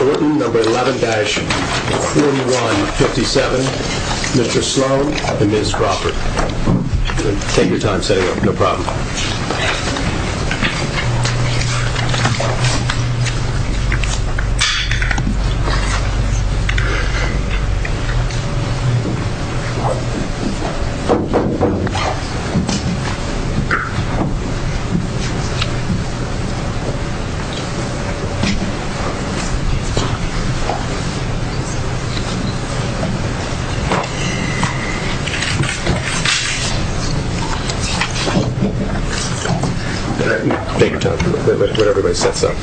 number 11-4157, Mr. Sloan and Ms. Crawford. Take your time setting up, no problem. Take your time for a little bit while everybody sets up.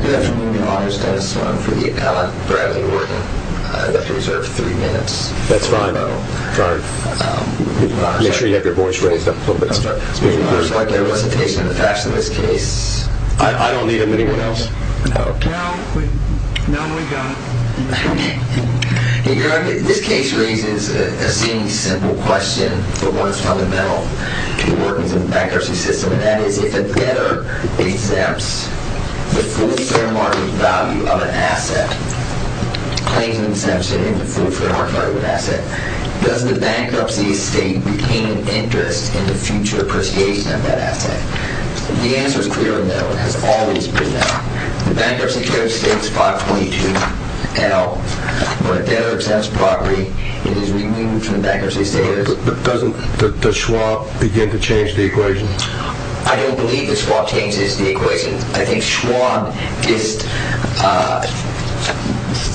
Good afternoon, your honor's Dennis Sloan for the appellant Bradley Orton. I'd like to reserve three minutes. That's fine. Make sure you have your voice raised up a little bit. I'd like your recitation of the facts of this case. I don't need them, anyone else. Your honor, this case raises a seemingly simple question for one's fundamental to working in the bankruptcy system. And that is, if a debtor exempts the full fair market value of an asset, claims an exemption in the full fair market value of an asset, does the bankruptcy estate retain an interest in the future appreciation of that asset? The answer is clearly no. It has always been no. The bankruptcy code states 522L. When a debtor exempts property, it is removed from the bankruptcy status. But doesn't the Schwab begin to change the equation? I don't believe the Schwab changes the equation. I think Schwab just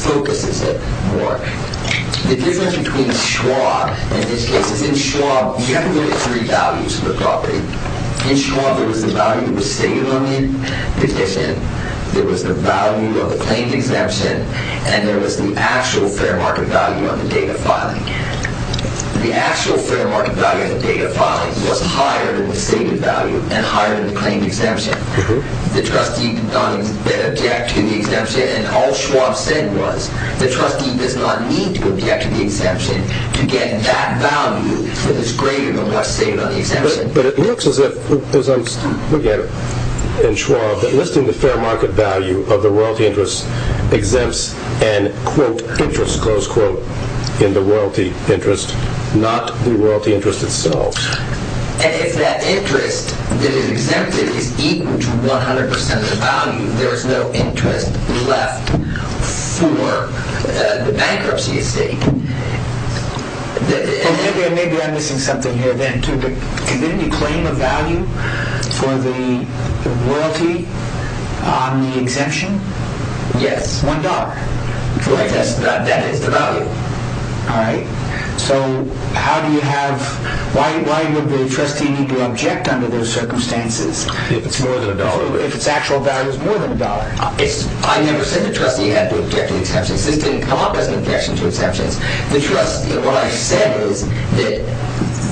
focuses it more. The difference between Schwab and this case is in Schwab, you have to look at three values for the property. In Schwab, there was the value of the stated loan in addition, there was the value of the claimed exemption, and there was the actual fair market value on the date of filing. The actual fair market value on the date of filing was higher than the stated value and higher than the claimed exemption. The trustee did not object to the exemption, and all Schwab said was, the trustee does not need to object to the exemption to get that value that is greater than what is stated on the exemption. But it looks as if, as I'm looking at it in Schwab, that listing the fair market value of the royalty interest exempts an quote, interest, close quote, in the royalty interest, not the royalty interest itself. And if that interest that is exempted is equal to 100% of the value, there is no interest left for the bankruptcy estate. Maybe I'm missing something here then, too. Didn't you claim a value for the royalty on the exemption? Yes. One dollar. Right, that is the value. All right. So how do you have, why would the trustee need to object under those circumstances? If it's more than a dollar. If it's actual value is more than a dollar. I never said the trustee had to object to the exemption. This didn't come up as an objection to exemptions. The trustee, what I said was that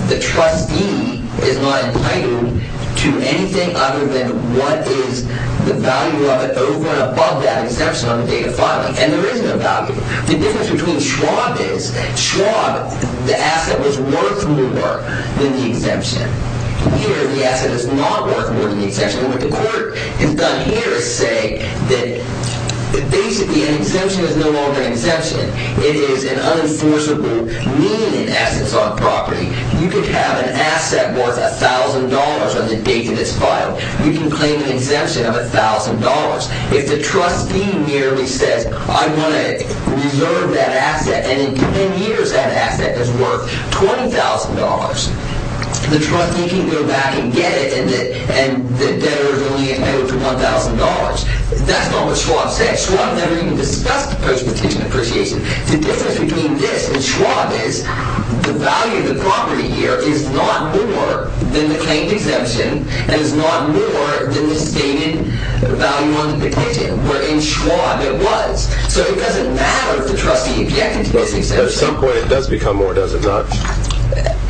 the trustee is not entitled to anything other than what is the value of it over and above that exemption on the date of filing. And there isn't a value. The difference between Schwab is, Schwab, the asset was worth more than the exemption. Here, the asset is not worth more than the exemption. What the court has done here is say that basically an exemption is no longer an exemption. It is an unenforceable need in assets on property. You could have an asset worth $1,000 on the date that it's filed. You can claim an exemption of $1,000. If the trustee merely says, I want to reserve that asset and in 10 years that asset is worth $20,000, the trustee can go back and get it and the debtor is only entitled to $1,000. That's not what Schwab said. Schwab never even discussed post-petition appreciation. The difference between this and Schwab is the value of the property here is not more than the claimed exemption and is not more than the stated value on the petition. Where in Schwab it was. So it doesn't matter if the trustee objected to this exemption. At some point it does become more, does it not?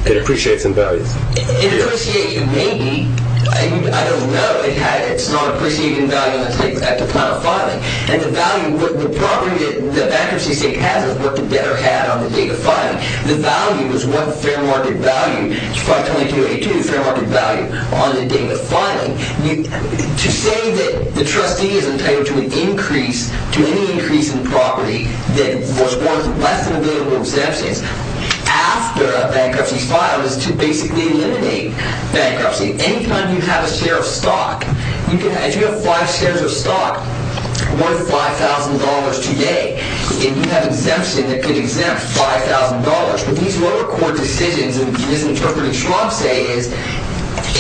It appreciates in values. It appreciates. It may be. I don't know. It's not appreciated in value. And the value, the property that bankruptcy state has is worth the debtor had on the date of filing. The value is what fair market value. Schwab 2282, fair market value on the date of filing. To say that the trustee is entitled to an increase, to any increase in property that was worth less than a billion worth of exemptions after a bankruptcy is filed is to basically eliminate bankruptcy. Any time you have a share of stock, as you have five shares of stock worth $5,000 today and you have exemption that could exempt $5,000, what these lower court decisions in this interpreting Schwab say is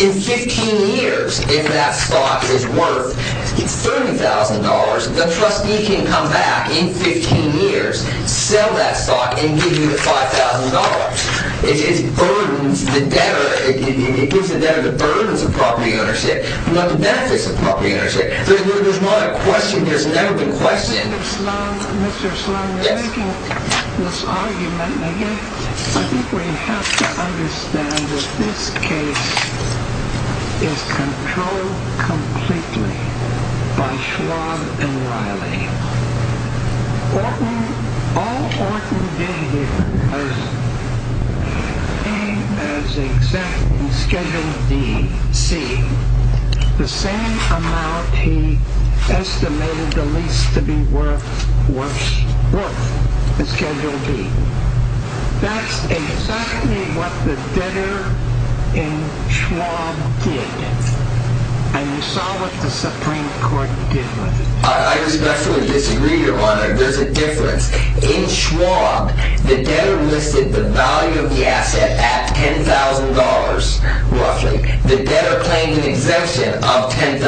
in 15 years if that stock is worth $30,000, the trustee can come back in 15 years, sell that stock, and give you the $5,000. It burdens the debtor. It gives the debtor the burdens of property ownership, not the benefits of property ownership. There's not a question. There's never been a question. Mr. Sloan, you're making this argument again. I think we have to understand that this case is controlled completely by Schwab and Riley. All Orton did here was pay as exempt in Schedule D, C, the same amount he estimated the lease to be worth in Schedule D. That's exactly what the debtor in Schwab did, and you saw what the Supreme Court did with it. I respectfully disagree, Your Honor. There's a difference. In Schwab, the debtor listed the value of the asset at $10,000, roughly. The debtor claimed an exemption of $10,000.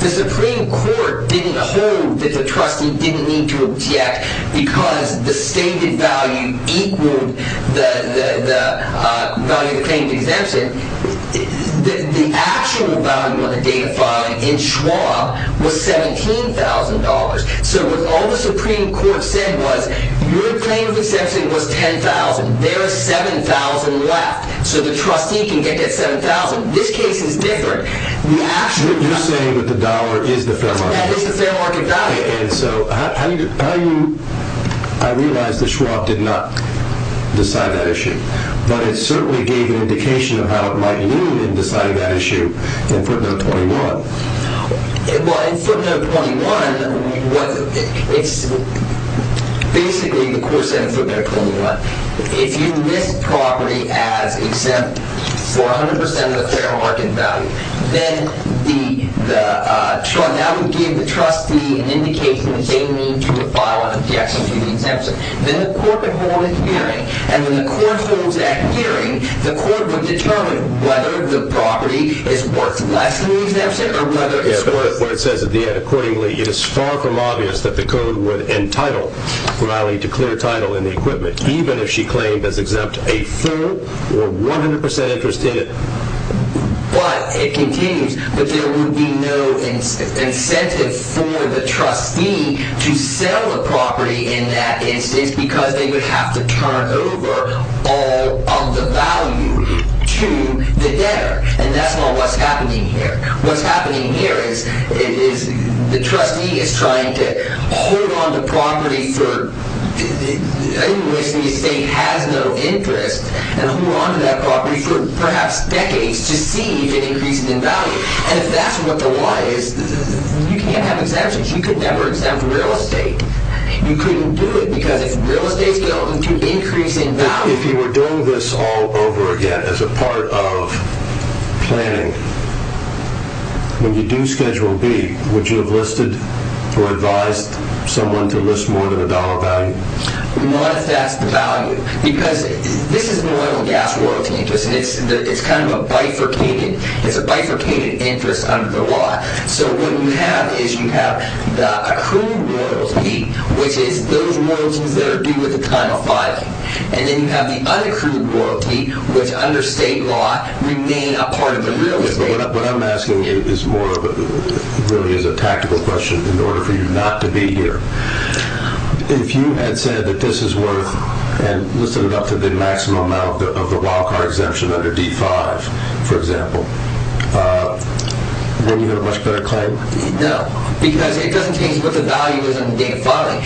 The Supreme Court didn't hold that the trustee didn't need to object because the stated value equaled the value of the claim to exemption. The actual value of the data file in Schwab was $17,000. All the Supreme Court said was your claim to exemption was $10,000. There is $7,000 left, so the trustee can get that $7,000. This case is different. You're saying that the dollar is the fair market value. It is the fair market value. I realize that Schwab did not decide that issue. But it certainly gave an indication of how it might loom in deciding that issue in footnote 21. Well, in footnote 21, basically the court said in footnote 21, if you list property as exempt for 100% of the fair market value, then that would give the trustee an indication that they need to file an objection to the exemption. Then the court would hold a hearing, and when the court holds that hearing, the court would determine whether the property is worth less than the exemption or whether it's worth less. Accordingly, it is far from obvious that the court would entitle Riley to clear title in the equipment, even if she claimed as exempt a full or 100% interest in it. But it continues that there would be no incentive for the trustee to sell the property in that instance because they would have to turn over all of the value to the debtor, and that's not what's happening here. What's happening here is the trustee is trying to hold on to property for— to see if it increases in value, and if that's what the why is, you can't have exemptions. You could never exempt real estate. You couldn't do it because if real estate is going to increase in value— If you were doing this all over again as a part of planning, when you do Schedule B, would you have listed or advised someone to list more than a dollar value? We wanted to ask the value because this is an oil and gas world, and it's kind of a bifurcated interest under the law. So what you have is you have the accrued royalty, which is those royalties that are due at the time of filing, and then you have the unaccrued royalty, which under state law remain a part of the real estate. What I'm asking really is a tactical question in order for you not to be here. If you had said that this is worth— and listed it up to the maximum amount of the wildcard exemption under D-5, for example, wouldn't you have a much better claim? No, because it doesn't change what the value is in the date of filing.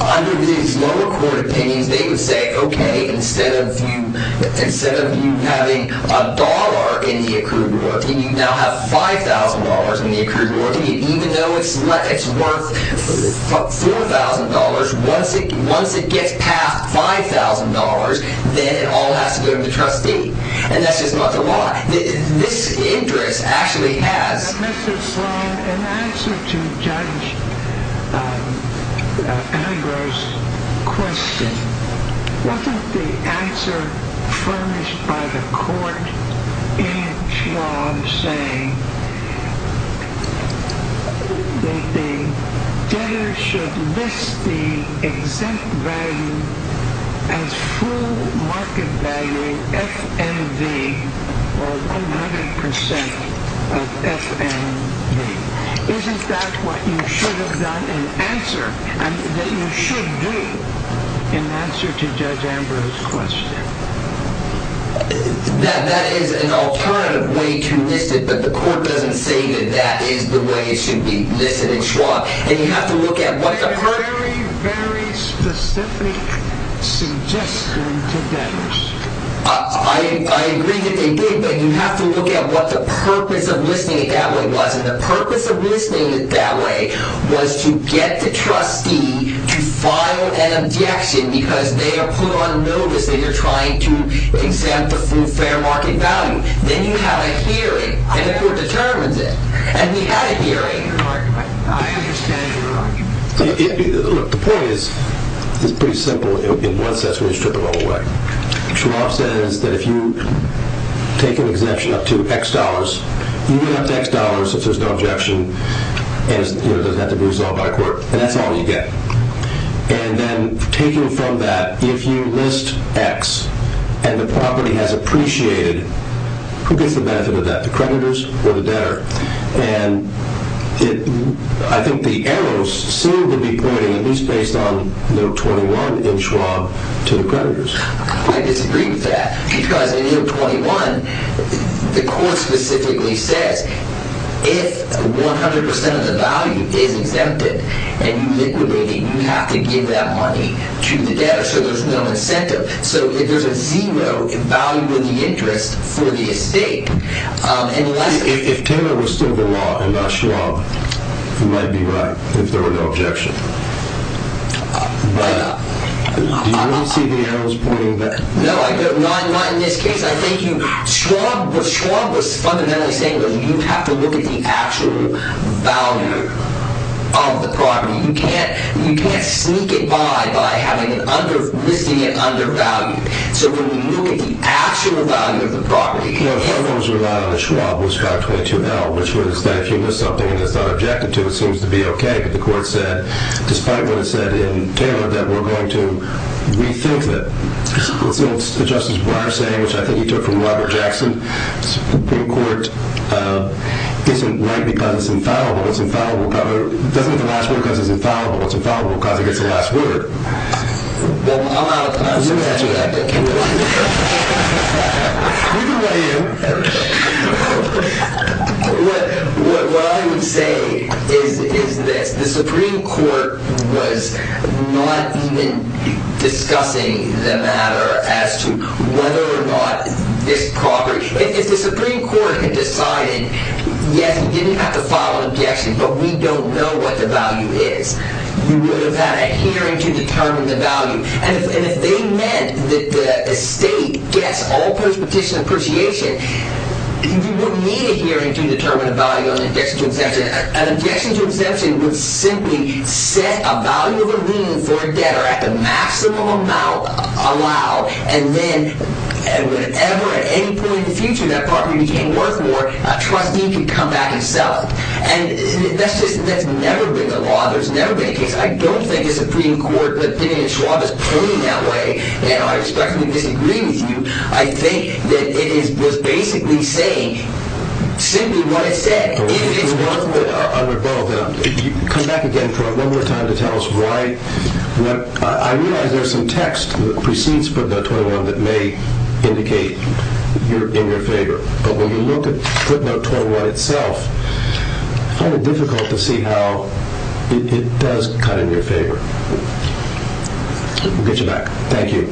Under these lower court opinions, they would say, okay, instead of you having a dollar in the accrued royalty, you now have $5,000 in the accrued royalty, and even though it's worth $4,000, once it gets past $5,000, then it all has to go to the trustee. And that's just not the law. This interest actually has— Mr. Sloan, in answer to Judge Agro's question, wasn't the answer furnished by the court in its law saying that the debtor should list the exempt value as full market value, FNV, or 100% of FNV? Isn't that what you should have done in answer— that you should do in answer to Judge Agro's question? That is an alternative way to list it, but the court doesn't say that that is the way it should be listed in Schwab. And you have to look at what the— It's a very, very specific suggestion to debtors. I agree that they did, but you have to look at what the purpose of listing it that way was. And the purpose of listing it that way was to get the trustee to file an objection because they are put on notice that they're trying to exempt the full fair market value. Then you have a hearing, and the court determines it. And we had a hearing. I understand your argument. Look, the point is pretty simple. In one sense, we just took them all away. Schwab says that if you take an exemption up to X dollars, you get up to X dollars if there's no objection, and it doesn't have to be resolved by a court, and that's all you get. And then taking from that, if you list X and the property has appreciated, who gets the benefit of that, the creditors or the debtor? And I think the arrows seem to be pointing, at least based on Note 21 in Schwab, to the creditors. I disagree with that because in Note 21, the court specifically says, if 100% of the value is exempted and you liquidate it, you have to give that money to the debtor so there's no incentive. So if there's a zero in value of the interest for the estate and less of it. If Taylor was still the law and not Schwab, he might be right if there were no objection. Do you want to see the arrows pointing there? No, not in this case. I think what Schwab was fundamentally saying was you have to look at the actual value of the property. You can't sneak it by by listing it under value. So when you look at the actual value of the property... No, the headphones were loud on the Schwab with Stock 22L, which was that if you list something and it's not objected to, it seems to be okay. But the court said, despite what it said in Taylor, that we're going to rethink it. Justice Breyer said, which I think he took from Robert Jackson, the Supreme Court isn't right because it's infallible. It's infallible because... It doesn't have the last word because it's infallible. It's infallible because it gets the last word. Well, I'm out of time, so that's what I think. What I would say is this. The Supreme Court was not even discussing the matter as to whether or not this property... If the Supreme Court had decided, yes, you didn't have to file an objection, but we don't know what the value is, you would have had a hearing to determine the value. And if they meant that the estate gets all post-petition appreciation, on an objection to exemption. An objection to exemption would simply set a value of a lien for a debtor at the maximum amount allowed, and then whenever, at any point in the future, that property became worth more, a trustee could come back and sell it. And that's just... That's never been the law. There's never been a case. I don't think the Supreme Court, but Dina Yashuab is pointing that way, and I respectfully disagree with you. I think that it was basically saying, simply what it said. If it's worth more... I would follow that up. Come back again for one more time to tell us why... I realize there's some text that precedes footnote 21 that may indicate you're in their favor, but when you look at footnote 21 itself, I find it difficult to see how it does cut in your favor. We'll get you back. Thank you.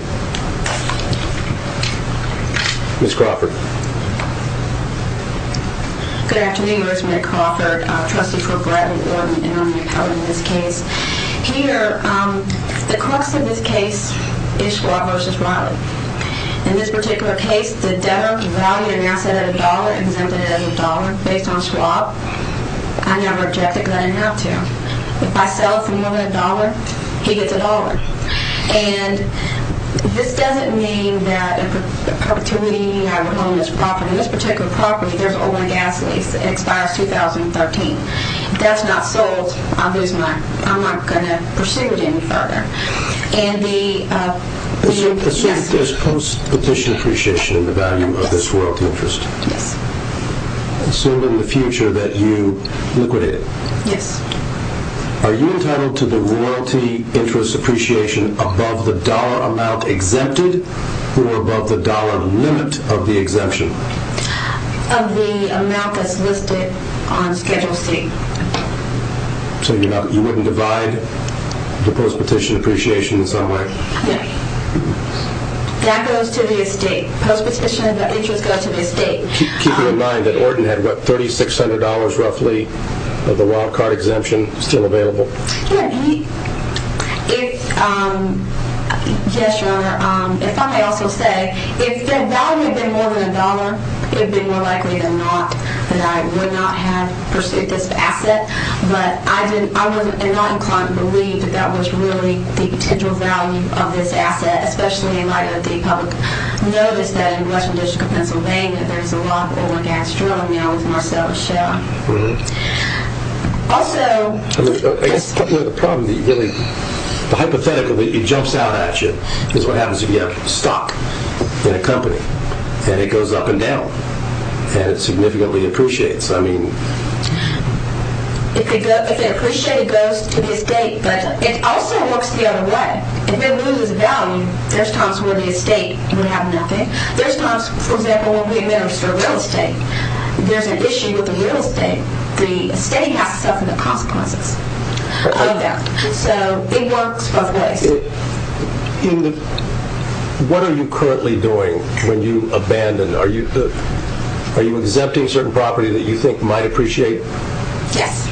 Ms. Crawford. Good afternoon. Rosemary Crawford, trustee for Bradenton, in this case. Here, the crux of this case is Schwab versus Riley. In this particular case, the debtor valued an asset at a dollar, exempted it as a dollar, based on Schwab. I never objected because I didn't have to. If I sell it for more than a dollar, he gets a dollar. And this doesn't mean that the opportunity I would own this property, this particular property, there's an oil and gas lease. It expires 2013. If that's not sold, I'll lose my... I'm not going to pursue it any further. And the... Assume there's post-petition appreciation in the value of this royalty interest. Yes. Assume in the future that you liquidate it. Yes. Are you entitled to the royalty interest appreciation above the dollar amount exempted or above the dollar limit of the exemption? Of the amount that's listed on Schedule C. So you're not... You wouldn't divide the post-petition appreciation in some way? No. That goes to the estate. Post-petition interest goes to the estate. Keep in mind that Ordon had, what, $3,600 roughly of the wild-card exemption still available? Yes. He... If... Yes, Your Honor. If I may also say, if the value had been more than a dollar, it would have been more likely than not that I would not have pursued this asset. But I didn't... I wasn't... I'm not inclined to believe that that was really the potential value of this asset, especially in light of the public notice that in the western district of Pennsylvania there's a lot of oil and gas drilling now with Marcellus Shell. Really? Also... I guess the problem, the hypothetical that jumps out at you is what happens if you have stock in a company and it goes up and down and it significantly appreciates. I mean... If it goes... If it appreciates, it goes to the estate. But it also works the other way. If it loses value, there's times where the estate would have nothing. There's times, for example, when we administer real estate, there's an issue with the real estate. The estate has to suffer the consequences of that. So it works both ways. In the... What are you currently doing when you abandon... Are you... Are you exempting certain property that you think might appreciate? Yes.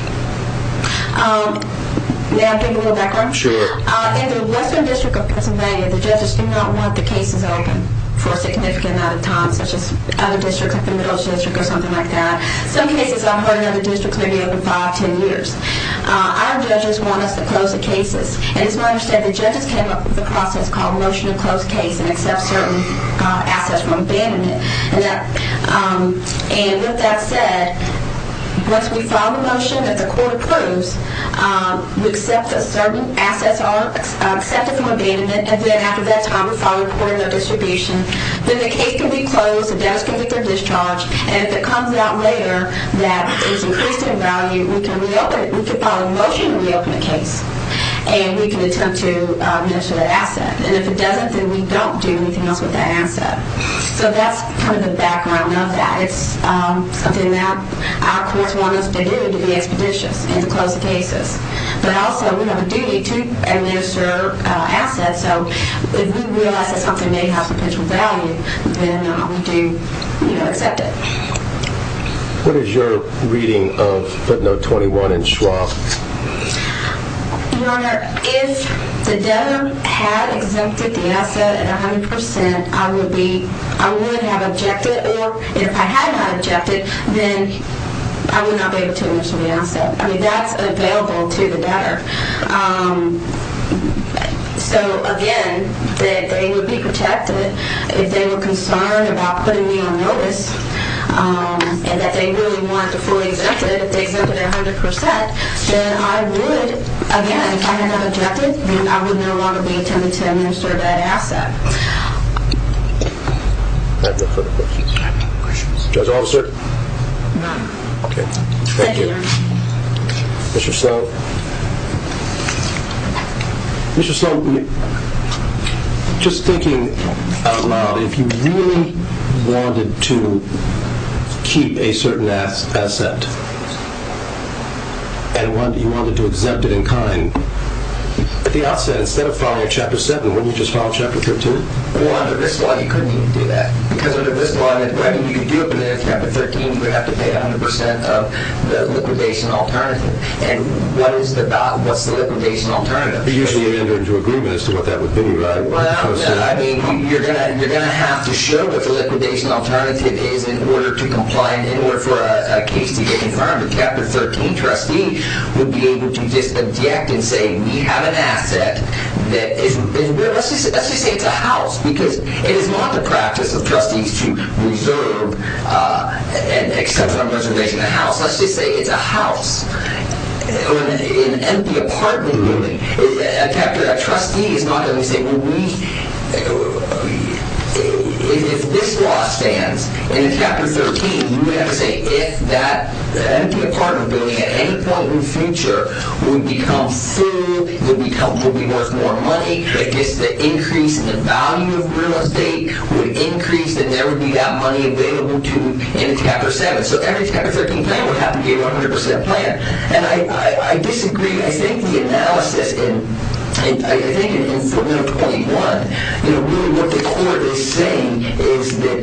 May I give you a little background? Sure. In the western district of Pennsylvania, the judges do not want the cases open for a significant amount of time, such as other districts like the Middle District Some cases I've heard in other districts may be open 5, 10 years. Our judges want us to close the cases. And as my understanding, the judges came up with a process called a motion to close case and accept certain assets from abandonment. And that... And with that said, once we file a motion that the court approves, we accept that certain assets are accepted from abandonment. And then after that time, we file a report in our distribution. Then the case can be closed. The debtors can get their discharge. And if it comes out later that it's increased in value, we can reopen it. We can file a motion to reopen the case. And we can attempt to administer that asset. And if it doesn't, then we don't do anything else with that asset. So that's kind of the background of that. It's something that our courts want us to do to be expeditious and to close the cases. But also, we have a duty to administer assets. So if we realize that something may have potential value, then we do, you know, accept it. What is your reading of footnote 21 in Schwab? Your Honor, if the debtor had exempted the asset at 100%, I would have objected. Or if I had not objected, then I would not be able to administer the asset. I mean, that's available to the debtor. So again, that they would be protected if they were concerned about putting me on notice and that they really wanted to fully exempt it if they exempted it at 100%. Then I would, again, if I had not objected, then I would no longer be attempting to administer that asset. I have no further questions. I have no questions. Judge Officer? None. Okay. Thank you. Thank you, Your Honor. Mr. Sloan? Mr. Sloan, just thinking out loud, if you really wanted to keep a certain asset, and you wanted to exempt it in kind, at the outset, instead of following Chapter 7, wouldn't you just follow Chapter 13? Well, under this law, you couldn't even do that. Because under this law, whether you do it within Chapter 13, you would have to pay 100% of the liquidation alternative. And what is the liquidation alternative? You usually amend it into agreement as to what that would be. Well, I mean, you're going to have to show what the liquidation alternative is in order to comply and in order for a case to get confirmed. Chapter 13 trustee would be able to just object and say, we have an asset that is... Let's just say it's a house, because it is not the practice of trustees to reserve and exempt from reservation a house. Let's just say it's a house. An empty apartment, really. A trustee is not going to say, well, we... If this law stands, in Chapter 13, you would have to say, if that empty apartment building at any point in the future would become full, would be worth more money, if the increase in the value of real estate would increase, then there would be that money available to you in Chapter 7. So every Chapter 13 plan would have to be a 100% plan. And I disagree. I think the analysis in... I think in Formula 21, you know, really what the court is saying is that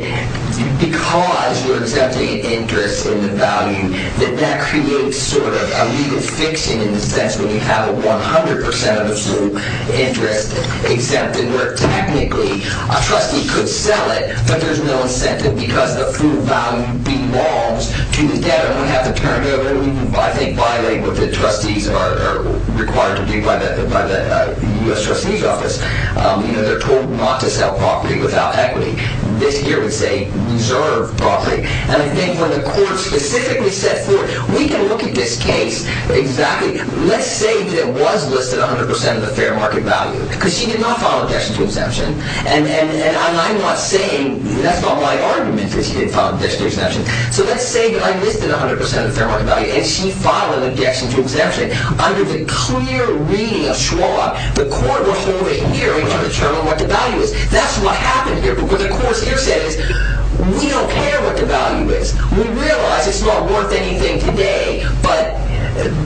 because you're exempting the interest in the value, that that creates sort of a legal fiction in the sense when you have a 100% of the full interest exempted, where technically, a trustee could sell it, but there's no incentive because the full value belongs to the debtor. And we have to turn it over and we, I think, violate what the trustees are required to do by the U.S. Trustee's Office. You know, they're told not to sell property without equity. This here would say, reserve property. And I think when the court specifically said for it, we can look at this case exactly. Let's say that it was listed 100% of the fair market value because she did not file an objection to exemption. And I'm not saying, that's not my argument that she didn't file an objection to exemption. So let's say that I listed 100% of the fair market value and she filed an objection to exemption. Under the clear reading of Schwab, the court will hold a hearing to determine what the value is. That's what happened here because the court here says, we don't care what the value is. We realize it's not worth anything today. But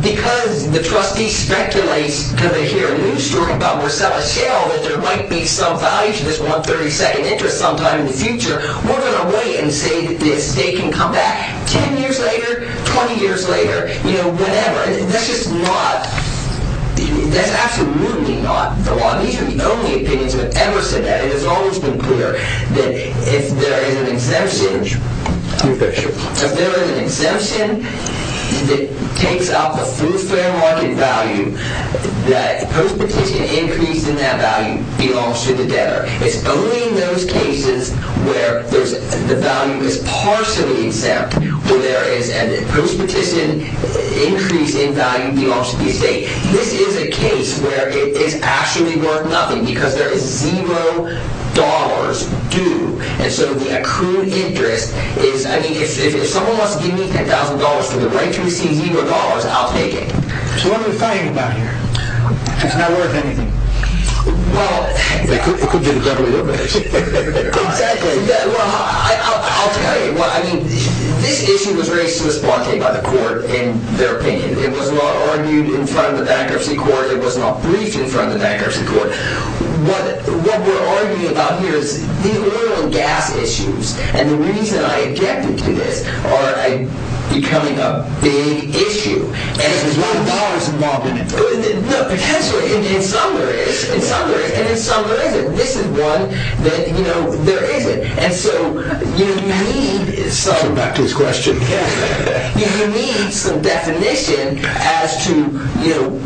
because the trustees speculate, because they hear a news story about Marcella Shale, that there might be some value to this 132nd interest sometime in the future, we're going to wait and say that this day can come back 10 years later, 20 years later, you know, whenever. That's just not, that's absolutely not the law. These are the only opinions that have ever said that. It has always been clear that if there is an exemption, if there is an exemption that takes out the full fair market value, that post-petition increase in that value belongs to the debtor. It's only in those cases where the value is partially exempt, where there is a post-petition increase in value belongs to the estate. This is a case where it is actually worth nothing because there is zero dollars due. And so the accrued interest is, I mean, if someone wants to give me $10,000 for the right to receive zero dollars, I'll take it. So what are we fighting about here? It's not worth anything. Well, it could be the government that pays. Exactly. Well, I'll tell you. I mean, this issue was raised to this blockade by the court in their opinion. It was not argued in front of the bankruptcy court. It was not briefed in front of the bankruptcy court. What we're arguing about here is the oil and gas issues. And the reason I objected to this are becoming a big issue. And if there's no dollars involved in it, no, potentially, in some there is, in some there is, and in some there isn't. This is one that, you know, there isn't. And so, you know, you need some... Go back to his question. You need some definition as to, you know,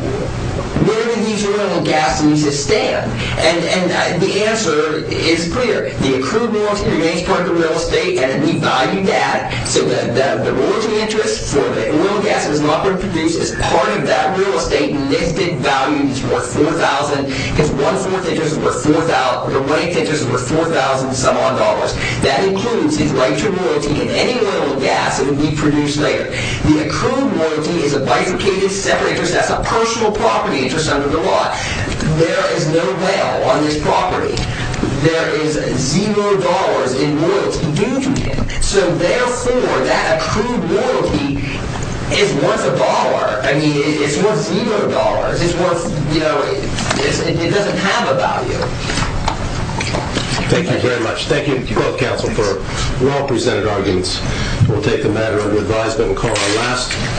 where do these oil and gas needs to stand? And the answer is clear. The accrued royalty remains part of the real estate and we value that so that the royalty interest for the oil and gas is not going to produce as part of that real estate listed value is worth 4,000 because one-fourth interest is worth 4,000 or one-eighth interest is worth 4,000 some odd dollars. That includes the right to royalty in any oil and gas that would be produced later. The accrued royalty is a bifurcated separate interest. That's a personal property interest under the law. There is no bail on this property. There is zero dollars in royalty due to it. So, therefore, that accrued royalty is worth a dollar. I mean, it's worth zero dollars. It's worth, you know, it doesn't have a value. Thank you very much. Thank you to both counsel for well-presented arguments. We'll take the matter under advisement and call it a last.